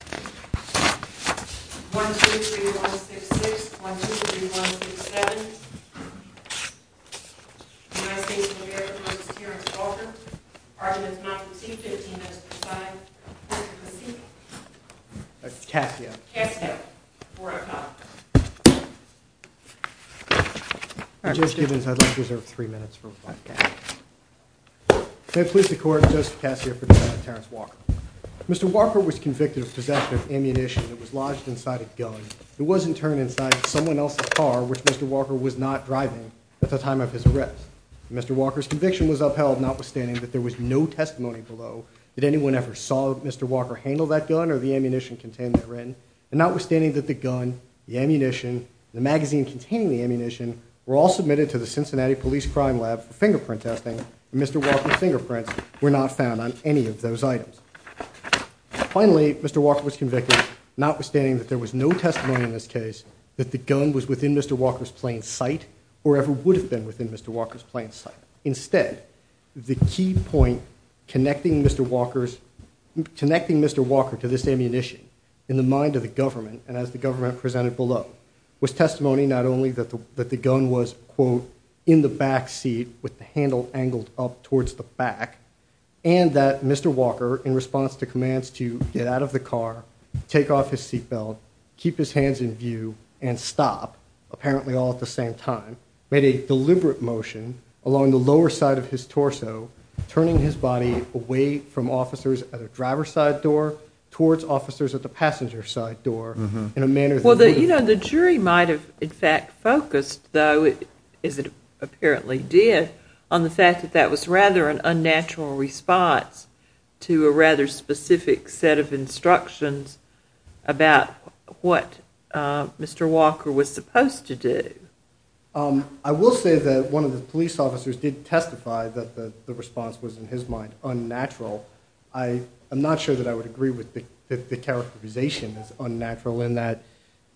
1-23-166, 1-23-167, United States of America, Mrs. Terrence Walker, Argument of Non-Conceit, 15 minutes per side, Court of Proceedings. Cassio. Cassio. 4 o'clock. Judge Gibbons, I'd like to reserve 3 minutes for one cast. May it please the Court, Justice Cassio for defendant Terrence Walker. Mr. Walker was convicted of possession of ammunition that was lodged inside a gun. It was, in turn, inside someone else's car, which Mr. Walker was not driving at the time of his arrest. Mr. Walker's conviction was upheld, notwithstanding that there was no testimony below that anyone ever saw Mr. Walker handle that gun or the ammunition contained therein, and notwithstanding that the gun, the ammunition, and the magazine containing the ammunition were all submitted to the Cincinnati Police Crime Lab for fingerprint testing, and Mr. Walker's fingerprints were not found on any of those items. Finally, Mr. Walker was convicted, notwithstanding that there was no testimony in this case that the gun was within Mr. Walker's plane's sight or ever would have been within Mr. Walker's plane's sight. Instead, the key point connecting Mr. Walker to this ammunition in the mind of the government, and as the government presented below, was testimony not only that the gun was, quote, in the backseat with the handle angled up towards the back, and that Mr. Walker, in response to commands to get out of the car, take off his seatbelt, keep his hands in view, and stop, apparently all at the same time, made a deliberate motion along the lower side of his torso, turning his body away from officers at a driver's side door towards officers at the passenger's side door. Well, you know, the jury might have, in fact, focused, though, as it apparently did, on the fact that that was rather an unnatural response to a rather specific set of instructions about what Mr. Walker was supposed to do. I will say that one of the police officers did testify that the response was, in his mind, unnatural. I'm not sure that I would agree with the characterization as unnatural in that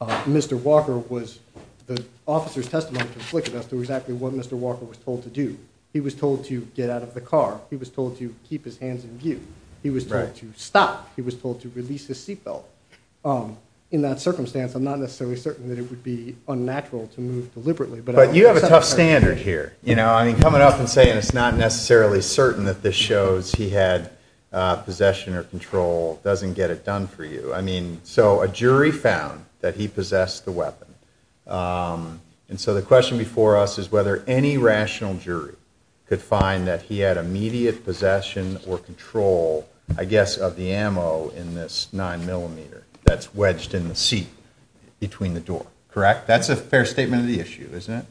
Mr. Walker was, the officer's testimony conflicted as to exactly what Mr. Walker was told to do. He was told to get out of the car. He was told to keep his hands in view. He was told to stop. He was told to release his seatbelt. In that circumstance, I'm not necessarily certain that it would be unnatural to move deliberately. But you have a tough standard here. You know, I mean, coming up and saying it's not necessarily certain that this shows he had possession or control doesn't get it done for you. I mean, so a jury found that he possessed the weapon. And so the question before us is whether any rational jury could find that he had immediate possession or control, I guess, of the ammo in this 9mm that's wedged in the seat between the door. Correct? That's a fair statement of the issue, isn't it?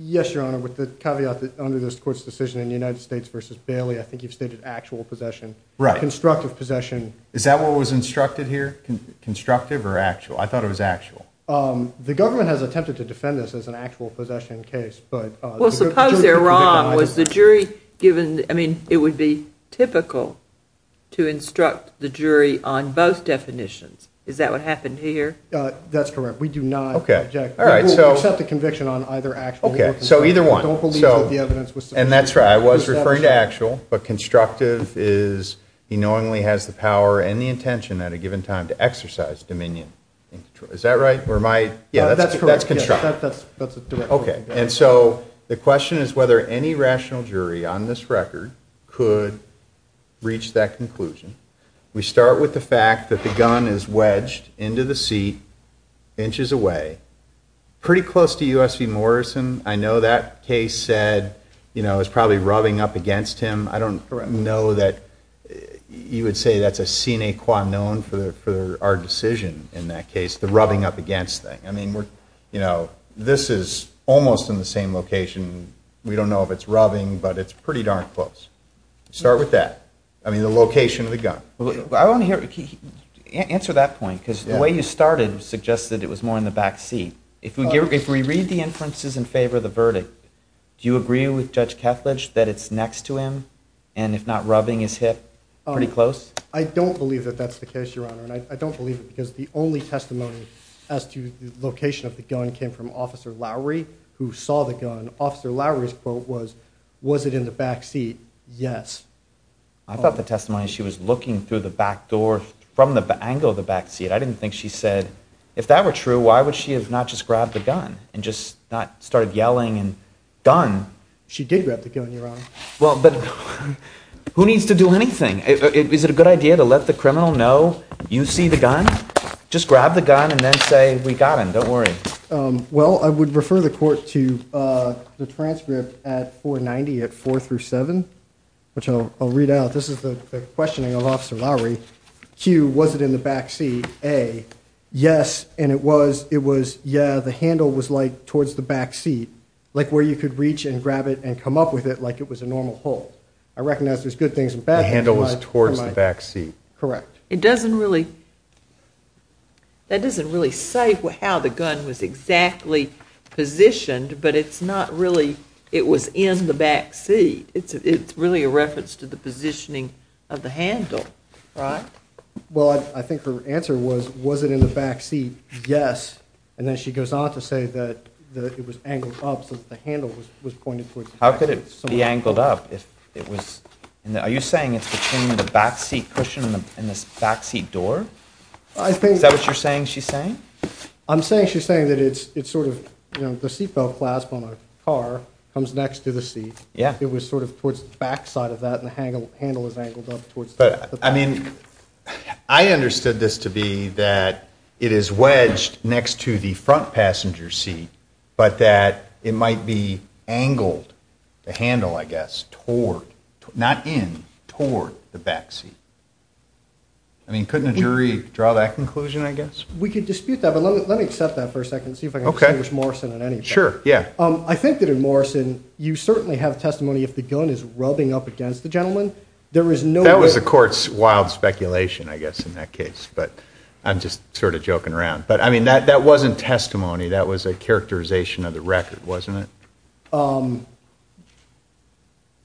Yes, Your Honor, with the caveat that under this Court's decision in United States v. Bailey, I think you've stated actual possession. Right. Constructive possession. Is that what was instructed here? Constructive or actual? I thought it was actual. The government has attempted to defend this as an actual possession case. Well, suppose they're wrong. Was the jury given, I mean, it would be typical to instruct the jury on both definitions. Is that what happened here? That's correct. We do not object. We accept the conviction on either actual or constructive. Okay. So either one. We don't believe that the evidence was sufficient. And that's right. I was referring to actual. But constructive is he knowingly has the power and the intention at a given time to exercise dominion. Is that right? That's correct. That's constructive. Okay. And so the question is whether any rational jury on this record could reach that conclusion. We start with the fact that the gun is wedged into the seat inches away, pretty close to U.S. v. Morrison. I know that case said, you know, it was probably rubbing up against him. I don't know that you would say that's a sine qua non for our decision in that case, the rubbing up against thing. I mean, you know, this is almost in the same location. We don't know if it's rubbing, but it's pretty darn close. Start with that. I mean, the location of the gun. Answer that point, because the way you started suggested it was more in the back seat. If we read the inferences in favor of the verdict, do you agree with Judge Kethledge that it's next to him and, if not rubbing his hip, pretty close? I don't believe that that's the case, Your Honor. And I don't believe it because the only testimony as to the location of the gun came from Officer Lowry, who saw the gun. Officer Lowry's quote was, was it in the back seat? Yes. I thought the testimony, she was looking through the back door from the angle of the back seat. I didn't think she said. If that were true, why would she have not just grabbed the gun and just not started yelling and gun? She did grab the gun, Your Honor. Well, but who needs to do anything? Is it a good idea to let the criminal know you see the gun? Just grab the gun and then say, we got him. Don't worry. Well, I would refer the court to the transcript at 490 at 4 through 7, which I'll read out. This is the questioning of Officer Lowry. Q, was it in the back seat? A, yes, and it was. It was, yeah, the handle was like towards the back seat, like where you could reach and grab it and come up with it like it was a normal pull. I recognize there's good things and bad things. The handle was towards the back seat. Correct. It doesn't really, that doesn't really say how the gun was exactly positioned, but it's not really, it was in the back seat. It's really a reference to the positioning of the handle, right? Well, I think her answer was, was it in the back seat? Yes. And then she goes on to say that it was angled up so that the handle was pointed towards the back seat. How could it be angled up if it was, are you saying it's between the back seat cushion and this back seat door? I think. Is that what you're saying she's saying? I'm saying she's saying that it's sort of, you know, the seat belt clasp on a car comes next to the seat. Yeah. It was sort of towards the back side of that and the handle was angled up towards the back seat. I mean, I understood this to be that it is wedged next to the front passenger seat, but that it might be angled, the handle, I guess, toward, not in, toward the back seat. I mean, couldn't a jury draw that conclusion, I guess? We could dispute that, but let me accept that for a second and see if I can distinguish Morrison on anything. Sure, yeah. I think that in Morrison, you certainly have testimony if the gun is rubbing up against the gentleman, there is no way. That was the court's wild speculation, I guess, in that case, but I'm just sort of joking around. But, I mean, that wasn't testimony. That was a characterization of the record, wasn't it?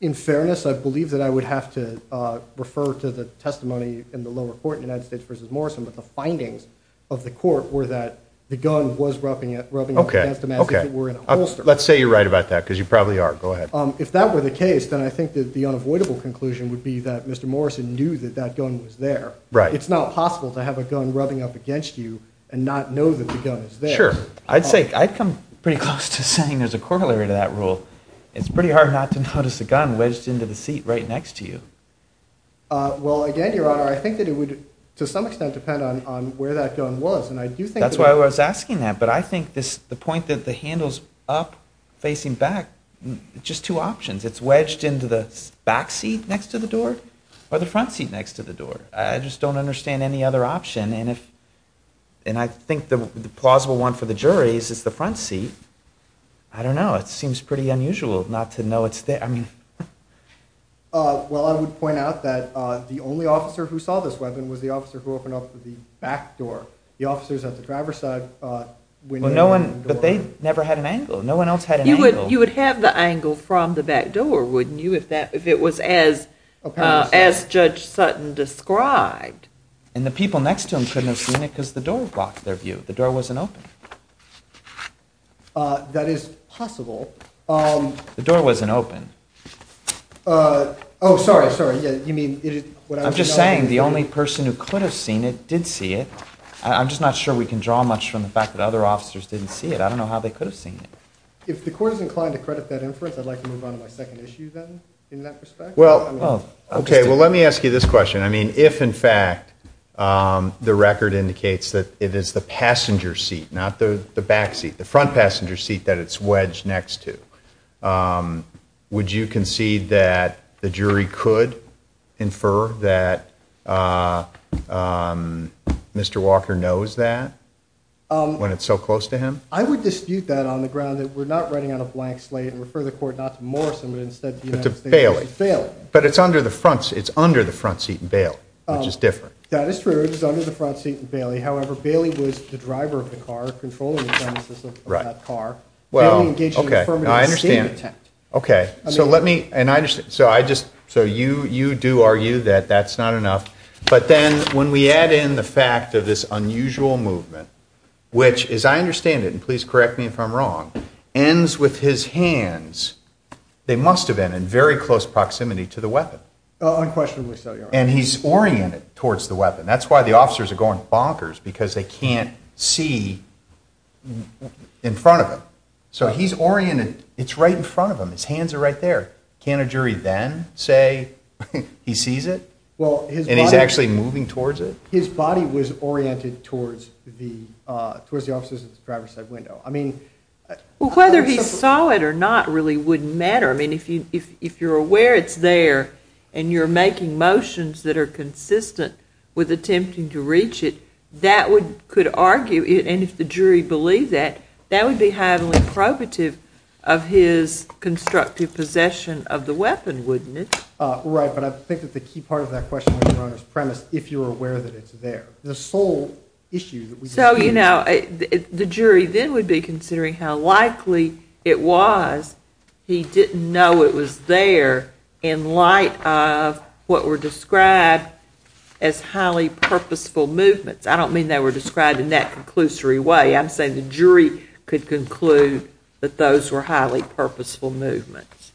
In fairness, I believe that I would have to refer to the testimony in the lower court in the United States versus Morrison, but the findings of the court were that the gun was rubbing up against the man if it were in a holster. Let's say you're right about that because you probably are. Go ahead. If that were the case, then I think that the unavoidable conclusion would be that Mr. Morrison knew that that gun was there. Right. It's not possible to have a gun rubbing up against you and not know that the gun is there. Sure. I'd come pretty close to saying there's a corollary to that rule. It's pretty hard not to notice a gun wedged into the seat right next to you. Well, again, Your Honor, I think that it would, to some extent, depend on where that gun was. That's why I was asking that, but I think the point that the handle's up facing back, just two options. It's wedged into the back seat next to the door or the front seat next to the door. I just don't understand any other option, and I think the plausible one for the jury is the front seat. I don't know. It seems pretty unusual not to know it's there. Well, I would point out that the only officer who saw this weapon was the officer who opened up the back door. The officers at the driver's side went in and opened the door. But they never had an angle. No one else had an angle. You would have the angle from the back door, wouldn't you, if it was as Judge Sutton described? And the people next to them couldn't have seen it because the door blocked their view. The door wasn't open. That is possible. The door wasn't open. Oh, sorry, sorry. I'm just saying the only person who could have seen it did see it. I'm just not sure we can draw much from the fact that other officers didn't see it. I don't know how they could have seen it. If the court is inclined to credit that inference, I'd like to move on to my second issue, then, in that respect. Okay, well, let me ask you this question. I mean, if, in fact, the record indicates that it is the passenger seat, not the back seat, the front passenger seat that it's wedged next to, would you concede that the jury could infer that Mr. Walker knows that when it's so close to him? I would dispute that on the ground that we're not writing on a blank slate and refer the court not to Morrison, but instead to the United States. But to Bailey. Bailey. But it's under the front seat in Bailey, which is different. That is true. It is under the front seat in Bailey. However, Bailey was the driver of the car, controlling the genesis of that car. Well, okay, I understand. Okay, so let me, and I understand, so I just, so you do argue that that's not enough. But then when we add in the fact of this unusual movement, which, as I understand it, and please correct me if I'm wrong, ends with his hands, they must have been in very close proximity to the weapon. Unquestionably so, Your Honor. And he's oriented towards the weapon. That's why the officers are going bonkers, because they can't see in front of him. So he's oriented, it's right in front of him. His hands are right there. Can't a jury then say he sees it? And he's actually moving towards it? His body was oriented towards the officers at the driver's side window. I mean, Well, whether he saw it or not really wouldn't matter. I mean, if you're aware it's there and you're making motions that are consistent with attempting to reach it, that could argue, and if the jury believed that, that would be highly probative of his constructive possession of the weapon, wouldn't it? Right, but I think that the key part of that question, Your Honor, is premise, if you're aware that it's there. So, you know, the jury then would be considering how likely it was he didn't know it was there in light of what were described as highly purposeful movements. I don't mean they were described in that conclusory way. I'm saying the jury could conclude that those were highly purposeful movements,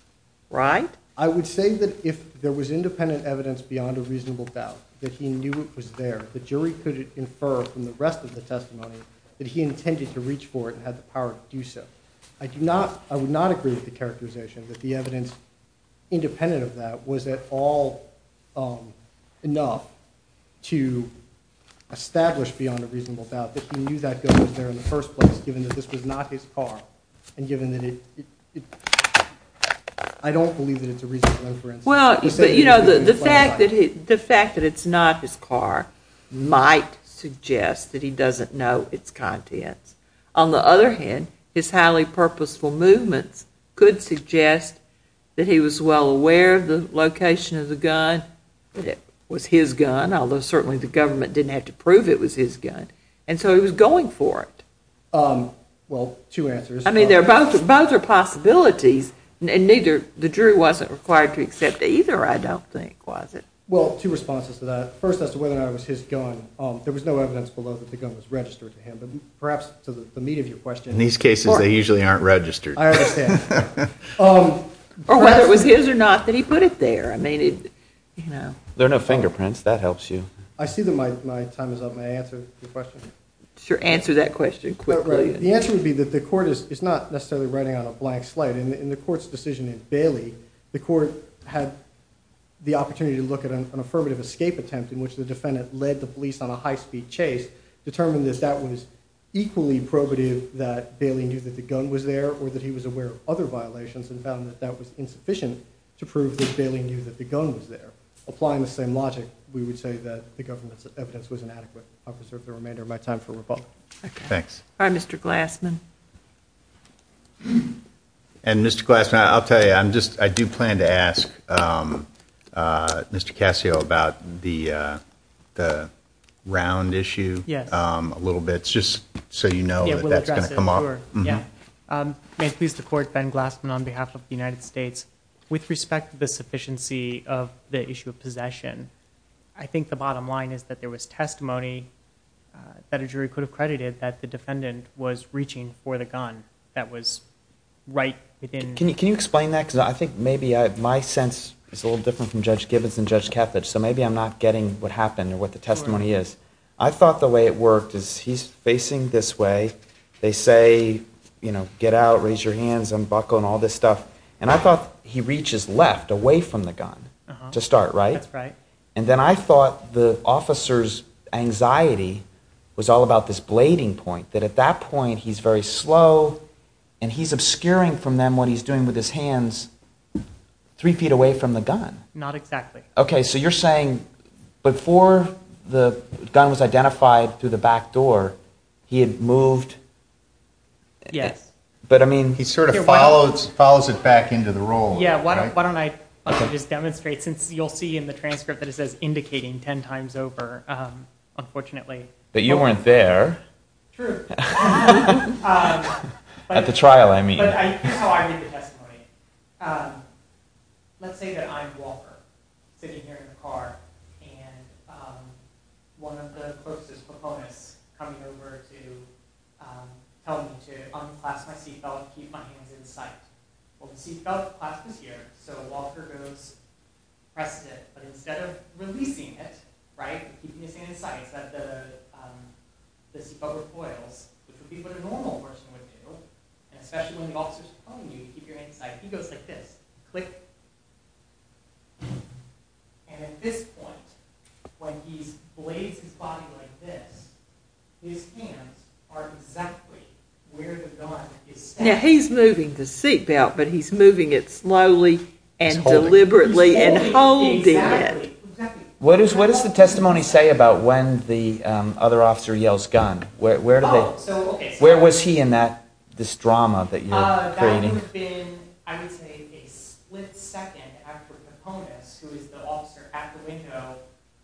right? I would say that if there was independent evidence beyond a reasonable doubt that he knew it was there, the jury could infer from the rest of the testimony that he intended to reach for it and had the power to do so. I do not, I would not agree with the characterization that the evidence independent of that was at all enough to establish beyond a reasonable doubt that he knew that gun was there in the first place, given that this was not his car, and given that it, I don't believe that it's a reasonable inference. Well, you know, the fact that it's not his car might suggest that he doesn't know its contents. On the other hand, his highly purposeful movements could suggest that he was well aware of the location of the gun, that it was his gun, although certainly the government didn't have to prove it was his gun, and so he was going for it. Well, two answers. I mean, both are possibilities, and neither, the jury wasn't required to accept either, I don't think, was it? Well, two responses to that. First as to whether or not it was his gun. There was no evidence below that the gun was registered to him, but perhaps to the meat of your question. In these cases, they usually aren't registered. I understand. Or whether it was his or not that he put it there. I mean, you know. There are no fingerprints. That helps you. I see that my time is up. May I answer your question? Sure, answer that question quickly. The answer would be that the court is not necessarily writing on a blank slate. In the court's decision in Bailey, the court had the opportunity to look at an affirmative escape attempt in which the defendant led the police on a high-speed chase, determined that that was equally probative that Bailey knew that the gun was there or that he was aware of other violations and found that that was insufficient to prove that Bailey knew that the gun was there. Applying the same logic, we would say that the government's evidence was inadequate. I'll preserve the remainder of my time for rebuttal. Thanks. All right, Mr. Glassman. And, Mr. Glassman, I'll tell you, I do plan to ask Mr. Cascio about the round issue a little bit, just so you know that that's going to come up. May it please the Court, Ben Glassman on behalf of the United States. I think the bottom line is that there was testimony that a jury could have credited that the defendant was reaching for the gun that was right within... Can you explain that? Because I think maybe my sense is a little different from Judge Gibbons and Judge Kethledge, so maybe I'm not getting what happened or what the testimony is. I thought the way it worked is he's facing this way. They say, you know, get out, raise your hands, unbuckle, and all this stuff. And I thought he reaches left, away from the gun to start, right? That's right. And then I thought the officer's anxiety was all about this blading point, that at that point he's very slow, and he's obscuring from them what he's doing with his hands three feet away from the gun. Not exactly. Okay, so you're saying before the gun was identified through the back door, he had moved... Yes. But, I mean... He sort of follows it back into the role. Yeah, why don't I just demonstrate, since you'll see in the transcript that it says indicating ten times over, unfortunately. But you weren't there. True. At the trial, I mean. But here's how I read the testimony. Let's say that I'm Walker, sitting here in the car, and one of the closest proponents coming over to tell me to unclasp my seatbelt, keep my hands in sight. Well, the seatbelt clasp is here, so Walker goes, presses it, but instead of releasing it, right, keeping his hands in sight, so that the seatbelt recoils, which would be what a normal person would do, and especially when the officer's telling you to keep your hands in sight, he goes like this. Click. And at this point, when he blades his body like this, his hands are exactly where the gun is standing. Now, he's moving the seatbelt, but he's moving it slowly and deliberately and holding it. What does the testimony say about when the other officer yells gun? Where was he in this drama that you're creating? That would have been, I would say, a split second after Paponis, who is the officer at the window,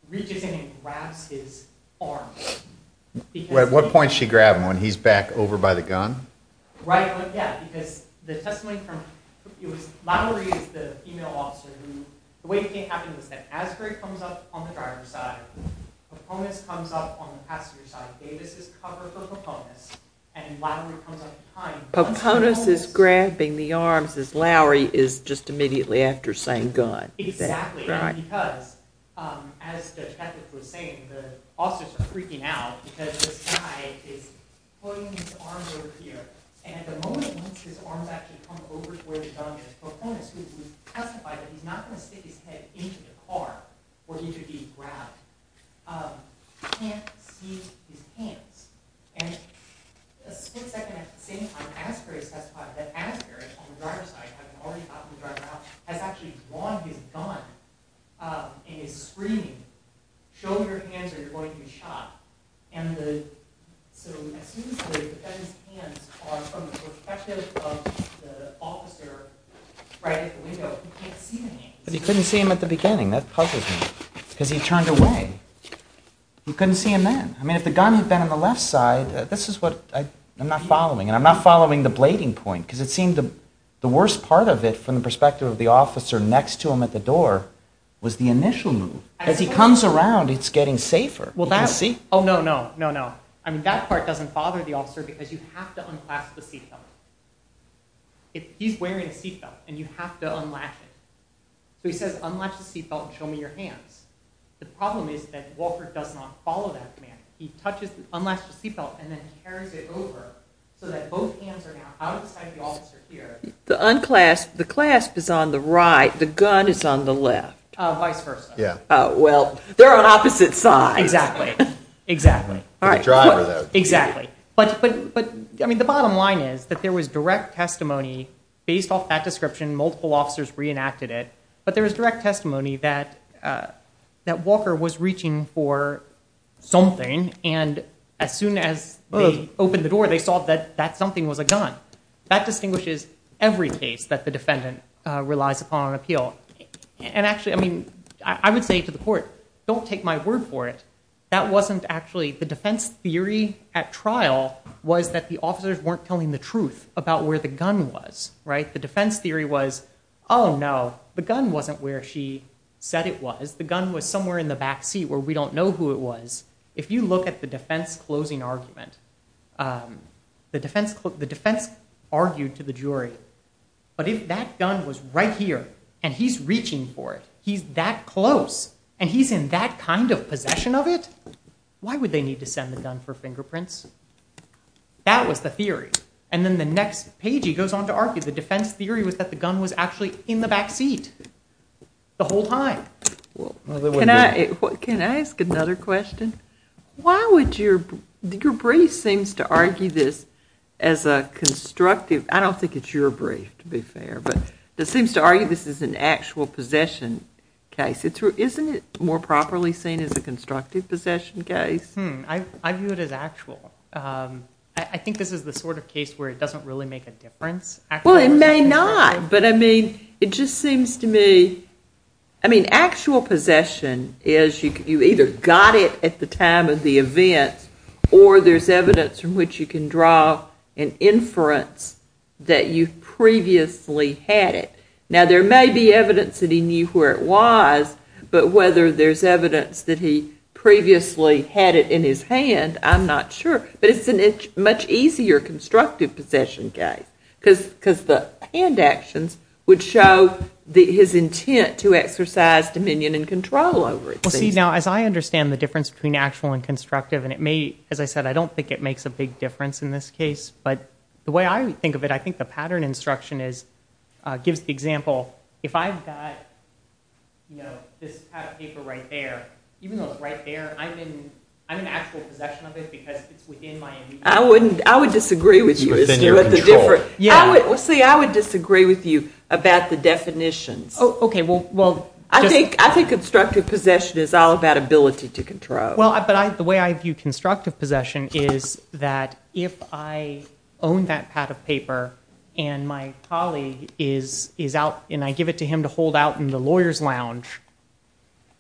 reaches in and grabs his arm. At what point does she grab him, when he's back over by the gun? Right, yeah, because the testimony from, it was, Lowry is the female officer who, the way it came out was that Asbury comes up on the driver's side, Paponis comes up on the passenger's side, Davis is covered for Paponis, and Lowry comes up behind. Paponis is grabbing the arms as Lowry is just immediately after saying gun. Exactly, and because, as the detective was saying, the officers are freaking out because this guy is putting his arms over here, and at the moment, once his arms actually come over to where the gun is, Paponis, who has testified that he's not going to stick his head into the car for him to be grabbed, can't see his hands. And a split second at the same time, Asbury has testified that Asbury, on the driver's side, having already popped the driver out, has actually grabbed his gun and is screaming, show me your hands or you're going to be shot. And so, as soon as the defendant's hands are from the perspective of the officer right at the window, he can't see the hands. But he couldn't see them at the beginning, that puzzles me. Because he turned away. He couldn't see them then. I mean, if the gun had been on the left side, this is what I'm not following. And I'm not following the blading point, because it seemed the worst part of it from the perspective of the officer next to him at the door was the initial move. As he comes around, it's getting safer. Oh, no, no, no, no. I mean, that part doesn't bother the officer because you have to unclasp the seatbelt. He's wearing a seatbelt, and you have to unlatch it. So he says, unlatch the seatbelt and show me your hands. The problem is that Wolford does not follow that command. He unclasps the seatbelt and then carries it over so that both hands are now out of the side of the officer here. The clasp is on the right. The gun is on the left. Vice versa. Well, they're on opposite sides. Exactly. I mean, the bottom line is that there was direct testimony based off that description. Multiple officers reenacted it. But there was direct testimony that Walker was reaching for something. And as soon as they opened the door, they saw that that something was a gun. That distinguishes every case that the defendant relies upon on appeal. And actually, I mean, I would say to the court, don't take my word for it. That wasn't actually the defense theory at trial was that the officers weren't telling the truth about where the gun was. The defense theory was, oh, no, the gun wasn't where she said it was. The gun was somewhere in the back seat where we don't know who it was. If you look at the defense closing argument, the defense argued to the jury, but if that gun was right here and he's reaching for it, he's that close and he's in that kind of possession of it, why would they need to send the gun for fingerprints? That was the theory. And then the next page, he goes on to argue the defense theory was that the gun was actually in the back seat the whole time. Can I ask another question? Your brief seems to argue this as a constructive... I don't think it's your brief, to be fair, but it seems to argue this is an actual possession case. Isn't it more properly seen as a constructive possession case? I view it as actual. I think this is the sort of case where it doesn't really make a difference. Well, it may not, but I mean, it just seems to me... I mean, actual possession is you either got it at the time of the event or there's evidence from which you can draw an inference that you previously had it. Now, there may be evidence that he knew where it was, but whether there's evidence that he previously had it in his hand, I'm not sure, but it's a much easier constructive possession case because the hand actions would show his intent to exercise dominion and control over it. Well, see, now, as I understand the difference between actual and constructive, and it may, as I said, I don't think it makes a big difference in this case, but the way I think of it, I think the pattern instruction gives the example... If I've got this type of paper right there, even though it's right there, I'm in actual possession of it because it's within my immediate... I would disagree with you. See, I would disagree with you about the definitions. Okay, well, I think constructive possession is all about ability to control. Well, but the way I view constructive possession is that if I own that pad of paper and my colleague is out and I give it to him to hold out in the lawyer's lounge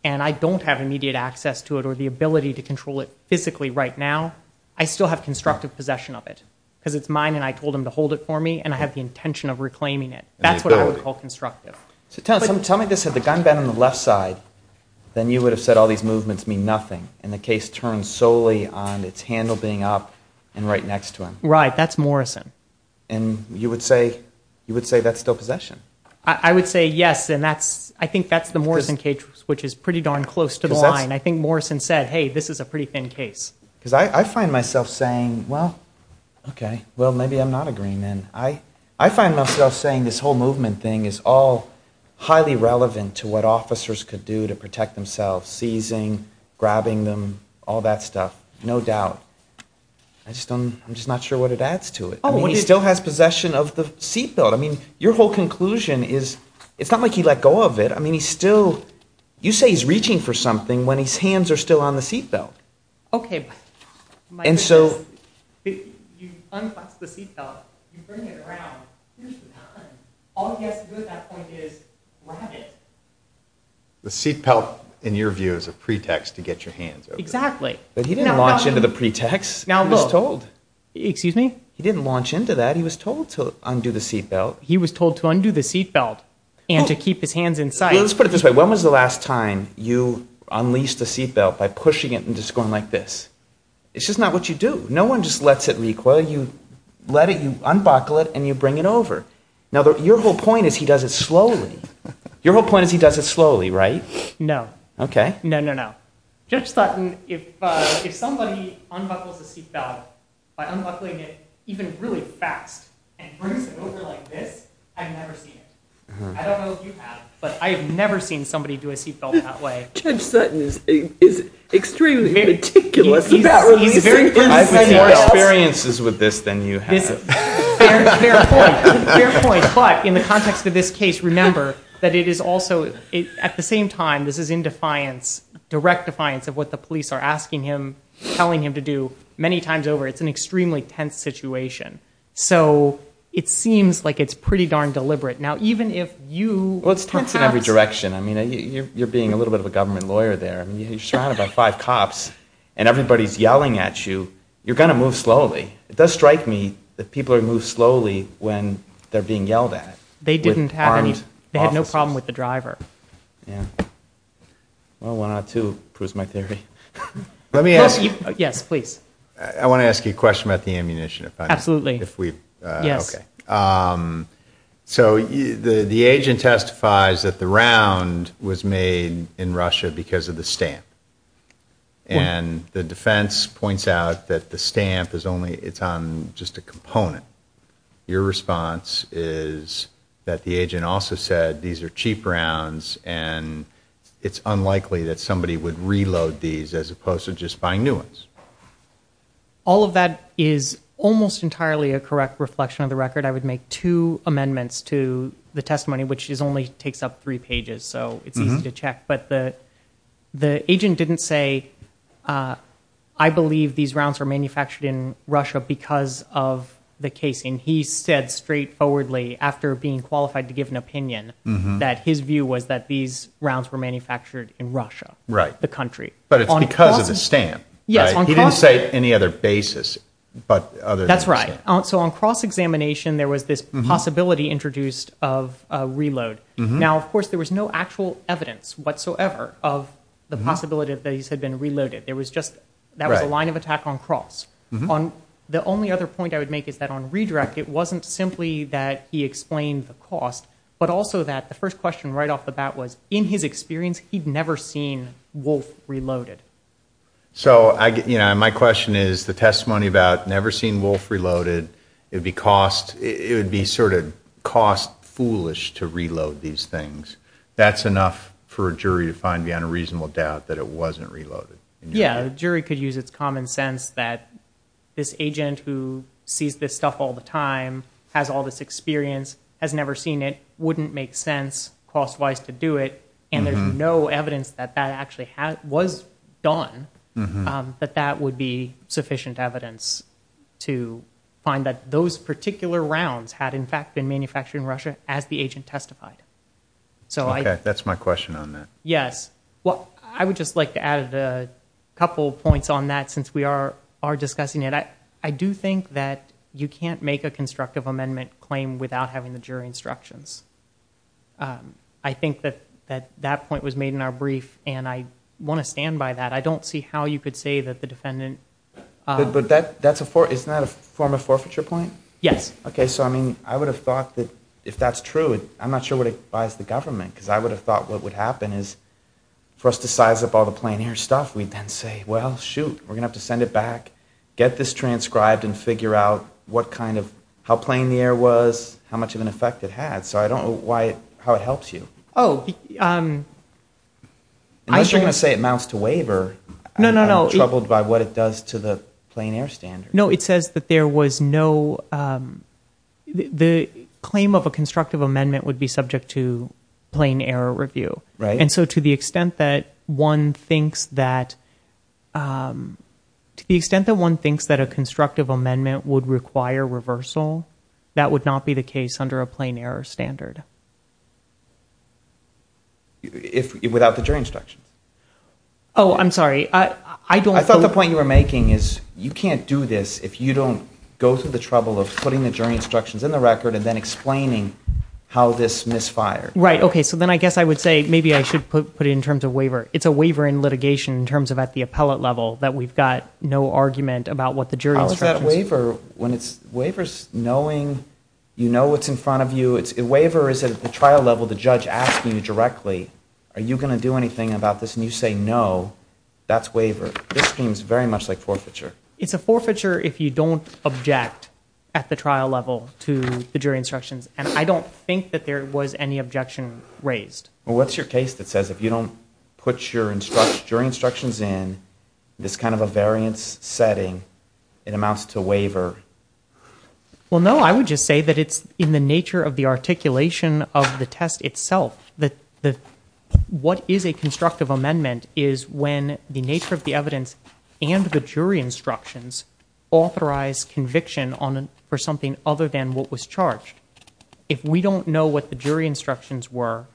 and I don't have immediate access to it or the ability to control it physically right now, I still have constructive possession of it because it's mine and I told him to hold it for me and I have the intention of reclaiming it. That's what I would call constructive. So tell me this. Had the gun been on the left side, then you would have said all these movements mean nothing and the case turns solely on its handle being up and right next to him. Right. That's Morrison. And you would say that's still possession? I would say yes, and I think that's the Morrison case, which is pretty darn close to the line. I think Morrison said, hey, this is a pretty thin case. Because I find myself saying, well, okay, well, maybe I'm not agreeing then. I find myself saying this whole movement thing is all highly relevant to what officers could do to protect themselves, seizing, grabbing them, all that stuff, no doubt. I'm just not sure what it adds to it. He still has possession of the seat belt. I mean, your whole conclusion is it's not like he let go of it. I mean, he's still, you say he's reaching for something when his hands are still on the seat belt. Okay. You unclasp the seat belt, you bring it around, all he has to do at that point is grab it. The seat belt, in your view, is a pretext to get your hands over it. Exactly. But he didn't launch into the pretext. He was told. Excuse me? He didn't launch into that. He was told to undo the seat belt. He was told to undo the seat belt and to keep his hands in sight. Let's put it this way. When was the last time you unleashed the seat belt by pushing it and just going like this? It's just not what you do. No one just lets it leak. Well, you let it, you unbuckle it, and you bring it over. Now, your whole point is he does it slowly. Your whole point is he does it slowly, right? No. Okay. No, no, no. Judge Sutton, if somebody unbuckles the seat belt by unbuckling it even really fast and brings it over like this, I've never seen it. I don't know if you have, but I've never seen somebody do a seat belt that way. Judge Sutton is extremely meticulous about releasing the seat belt. I've had more experiences with this than you have. Fair point. Fair point. But in the context of this case, remember that it is also, at the same time, this is in defiance, direct defiance of what the police are asking him, telling him to do, many times over. It's an extremely tense situation. So it seems like it's pretty darn deliberate. Now, even if you... Well, it's tense in every direction. I mean, you're being a little bit of a government lawyer there. I mean, you're surrounded by five cops, and everybody's yelling at you. You're going to move slowly. It does strike me that people move slowly when they're being yelled at. They didn't have any... Armed officers. They had no problem with the driver. Yeah. Well, one out of two proves my theory. Let me ask you... Yes, please. I want to ask you a question about the ammunition. Absolutely. If we... Yes. Okay. So the agent testifies that the round was made in Russia because of the stamp. And the defense points out that the stamp is only... It's on just a component. Your response is that the agent also said these are cheap rounds, and it's unlikely that somebody would reload these as opposed to just buying new ones. All of that is almost entirely a correct reflection of the record. I would make two amendments to the testimony, which only takes up three pages, so it's easy to check. But the agent didn't say, I believe these rounds were manufactured in Russia because of the casing. He said straightforwardly, after being qualified to give an opinion, that his view was that these rounds were manufactured in Russia, the country. But it's because of the stamp, right? He didn't say any other basis but other than the stamp. That's right. So on cross-examination, there was this possibility introduced of reload. Now, of course, there was no actual evidence whatsoever of the possibility that these had been reloaded. That was a line of attack on cross. The only other point I would make is that on redirect, it wasn't simply that he explained the cost, but also that the first question right off the bat was, in his experience, he'd never seen Wolf reloaded. So my question is, the testimony about never seen Wolf reloaded, it would be sort of cost-foolish to reload these things. That's enough for a jury to find beyond a reasonable doubt that it wasn't reloaded. Yeah, the jury could use its common sense that this agent who sees this stuff all the time, has all this experience, has never seen it, wouldn't make sense cost-wise to do it, and there's no evidence that that actually was done, that that would be sufficient evidence to find that those particular rounds had, in fact, been manufactured in Russia as the agent testified. Okay, that's my question on that. Yes. Well, I would just like to add a couple points on that since we are discussing it. I do think that you can't make a constructive amendment claim without having the jury instructions. I think that that point was made in our brief, and I want to stand by that. I don't see how you could say that the defendant... But isn't that a form of forfeiture point? Yes. Okay, so I mean, I would have thought that if that's true, I'm not sure what it buys the government because I would have thought what would happen is for us to size up all the plain air stuff, we'd then say, well, shoot, we're going to have to send it back, get this transcribed, and figure out how plain the air was, how much of an effect it had. So I don't know how it helps you. Unless you're going to say it amounts to waiver. No, no, no. I'm troubled by what it does to the plain air standards. No, it says that there was no... The claim of a constructive amendment would be subject to plain air review. Right. And so to the extent that one thinks that... To the extent that one thinks that a constructive amendment would require reversal, that would not be the case under a plain air standard. Without the jury instructions. Oh, I'm sorry. I thought the point you were making is you can't do this if you don't go through the trouble of putting the jury instructions in the record and then explaining how this misfired. Right, okay, so then I guess I would say maybe I should put it in terms of waiver. It's a waiver in litigation in terms of at the appellate level that we've got no argument about what the jury instructions... Waiver is knowing you know what's in front of you. Waiver is at the trial level the judge asking you directly, are you going to do anything about this, and you say no, that's waiver. This seems very much like forfeiture. It's a forfeiture if you don't object at the trial level to the jury instructions, and I don't think that there was any objection raised. Well, what's your case that says if you don't put your jury instructions in, this kind of a variance setting, it amounts to waiver? Well, no, I would just say that it's in the nature of the articulation of the test itself. What is a constructive amendment is when the nature of the evidence and the jury instructions authorize conviction for something other than what was charged. If we don't know what the jury instructions were,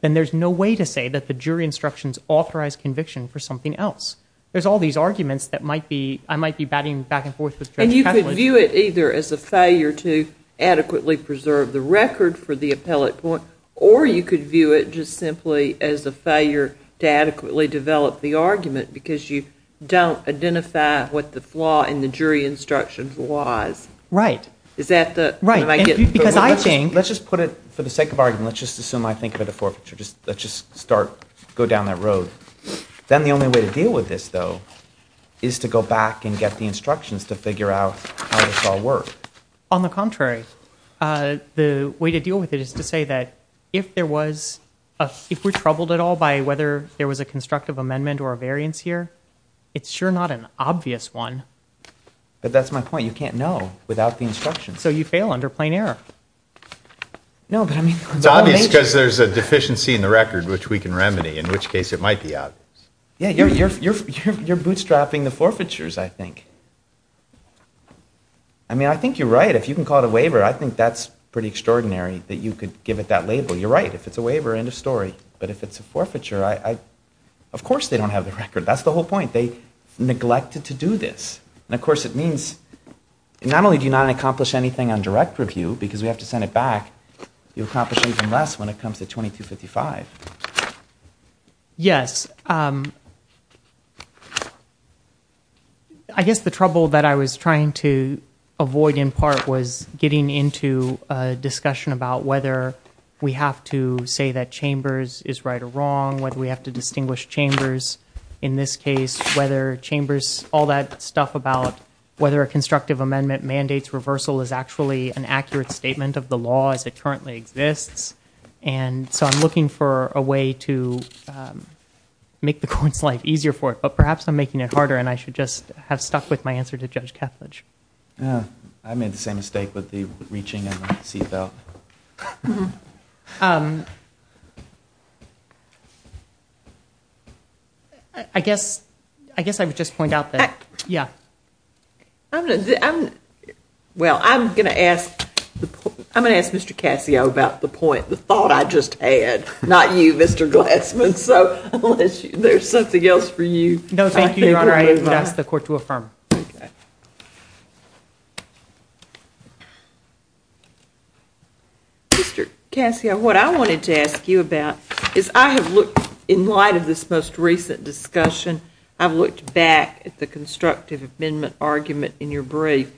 then there's no way to say that the jury instructions authorize conviction for something else. There's all these arguments that I might be batting back and forth with Judge Catlin. And you could view it either as a failure to adequately preserve the record for the appellate point, or you could view it just simply as a failure to adequately develop the argument because you don't identify what the flaw in the jury instructions was. Right. Is that the... Because I think... Let's just put it, for the sake of argument, let's just assume I think of it a forfeiture. Let's just start, go down that road. Then the only way to deal with this, though, is to go back and get the instructions to figure out how this all worked. On the contrary. The way to deal with it is to say that if there was, if we're troubled at all by whether there was a constructive amendment or a variance here, it's sure not an obvious one. But that's my point. You can't know without the instructions. So you fail under plain error. No, but I mean... It's obvious because there's a deficiency in the record which we can remedy, in which case it might be obvious. Yeah, you're bootstrapping the forfeitures, I think. I mean, I think you're right. If you can call it a waiver, I think that's pretty extraordinary that you could give it that label. You're right. If it's a waiver, end of story. But if it's a forfeiture, of course they don't have the record. That's the whole point. They neglected to do this. And, of course, it means not only do you not accomplish anything on direct review, because we have to send it back, you accomplish even less when it comes to 2255. Yes. I guess the trouble that I was trying to avoid in part was getting into a discussion about whether we have to say that Chambers is right or wrong, whether we have to distinguish Chambers in this case, whether Chambers, all that stuff about whether a constructive amendment mandates reversal is actually an accurate statement of the law as it currently exists. And so I'm looking for a way to make the court's life easier for it. But perhaps I'm making it harder, and I should just have stuck with my answer to Judge Kethledge. I made the same mistake with the reaching and the seatbelt. I guess I would just point out that, yeah. Well, I'm going to ask Mr. Cassio about the point, the thought I just had, not you, Mr. Glassman. So unless there's something else for you. I invite the court to affirm. Mr. Cassio, what I wanted to ask you about is I have looked, in light of this most recent discussion, I've looked back at the constructive amendment argument in your brief,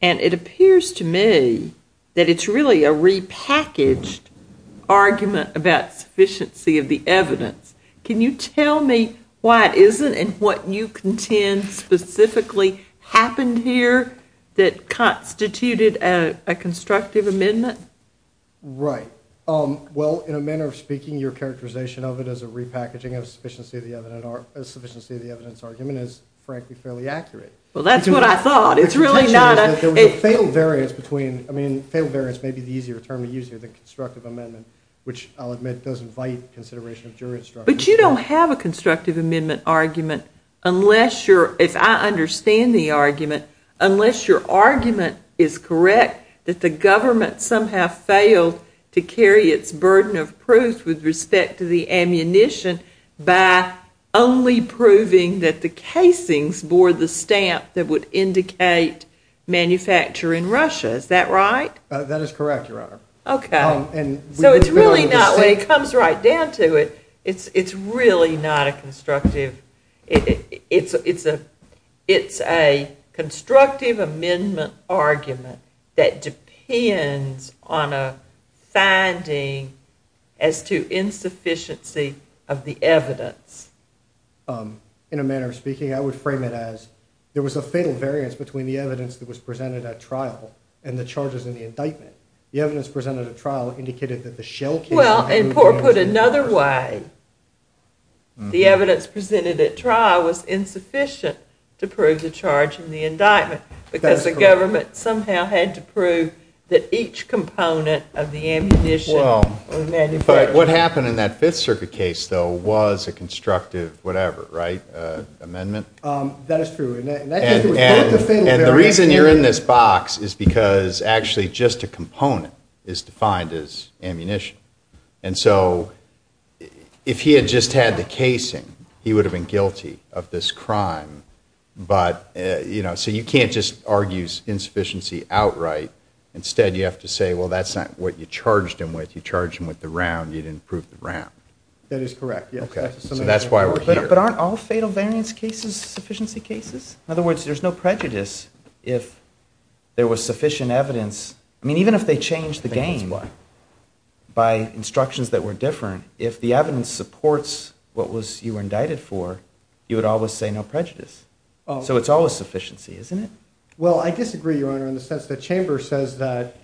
and it appears to me that it's really a repackaged argument about sufficiency of the evidence. Can you tell me why it isn't and what you contend specifically happened here that constituted a constructive amendment? Right. Well, in a manner of speaking, your characterization of it as a repackaging of sufficiency of the evidence argument is frankly fairly accurate. Well, that's what I thought. It's really not a – The contention is that there was a fatal variance between – I mean, fatal variance may be the easier term to use here than constructive amendment, which I'll admit doesn't fight consideration of jury instruction. But you don't have a constructive amendment argument unless you're – if I understand the argument, unless your argument is correct that the government somehow failed to carry its burden of proof with respect to the ammunition by only proving that the casings bore the stamp that would indicate manufacture in Russia. Is that right? That is correct, Your Honor. Okay. So it's really not – when it comes right down to it, it's really not a constructive – it's a constructive amendment argument that depends on a finding as to insufficiency of the evidence. In a manner of speaking, I would frame it as there was a fatal variance between the evidence that was presented at trial and the charges in the indictment. The evidence presented at trial indicated that the shell casing – Well, and poor put another way, the evidence presented at trial was insufficient to prove the charge in the indictment because the government somehow had to prove that each component of the ammunition was manufactured. Well, but what happened in that Fifth Circuit case, though, was a constructive whatever, right? Amendment? That is true. And the reason you're in this box is because actually just a component is defined as ammunition. And so if he had just had the casing, he would have been guilty of this crime. But, you know, so you can't just argue insufficiency outright. Instead, you have to say, well, that's not what you charged him with. You charged him with the round. You didn't prove the round. That is correct, yes. So that's why we're here. But aren't all fatal variance cases sufficiency cases? In other words, there's no prejudice if there was sufficient evidence. I mean, even if they changed the game by instructions that were different, if the evidence supports what you were indicted for, you would always say no prejudice. So it's always sufficiency, isn't it? Well, I disagree, Your Honor, in the sense that Chambers says that,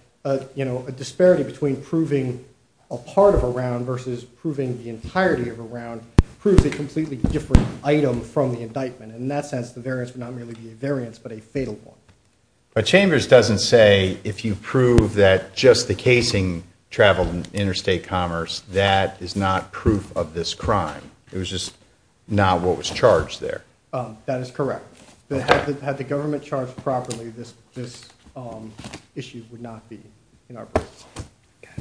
you know, a disparity between proving a part of a round versus proving the entirety of a round proves a completely different item from the indictment. In that sense, the variance would not merely be a variance but a fatal one. But Chambers doesn't say if you prove that just the casing traveled in interstate commerce, that is not proof of this crime. It was just not what was charged there. That is correct. Had the government charged properly, this issue would not be in our briefs. Okay.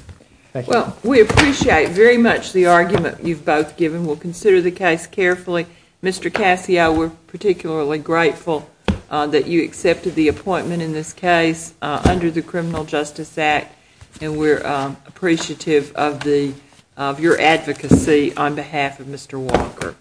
Thank you. Well, we appreciate very much the argument you've both given. We'll consider the case carefully. Mr. Cassio, we're particularly grateful that you accepted the appointment in this case under the Criminal Justice Act, and we're appreciative of your advocacy on behalf of Mr. Walker.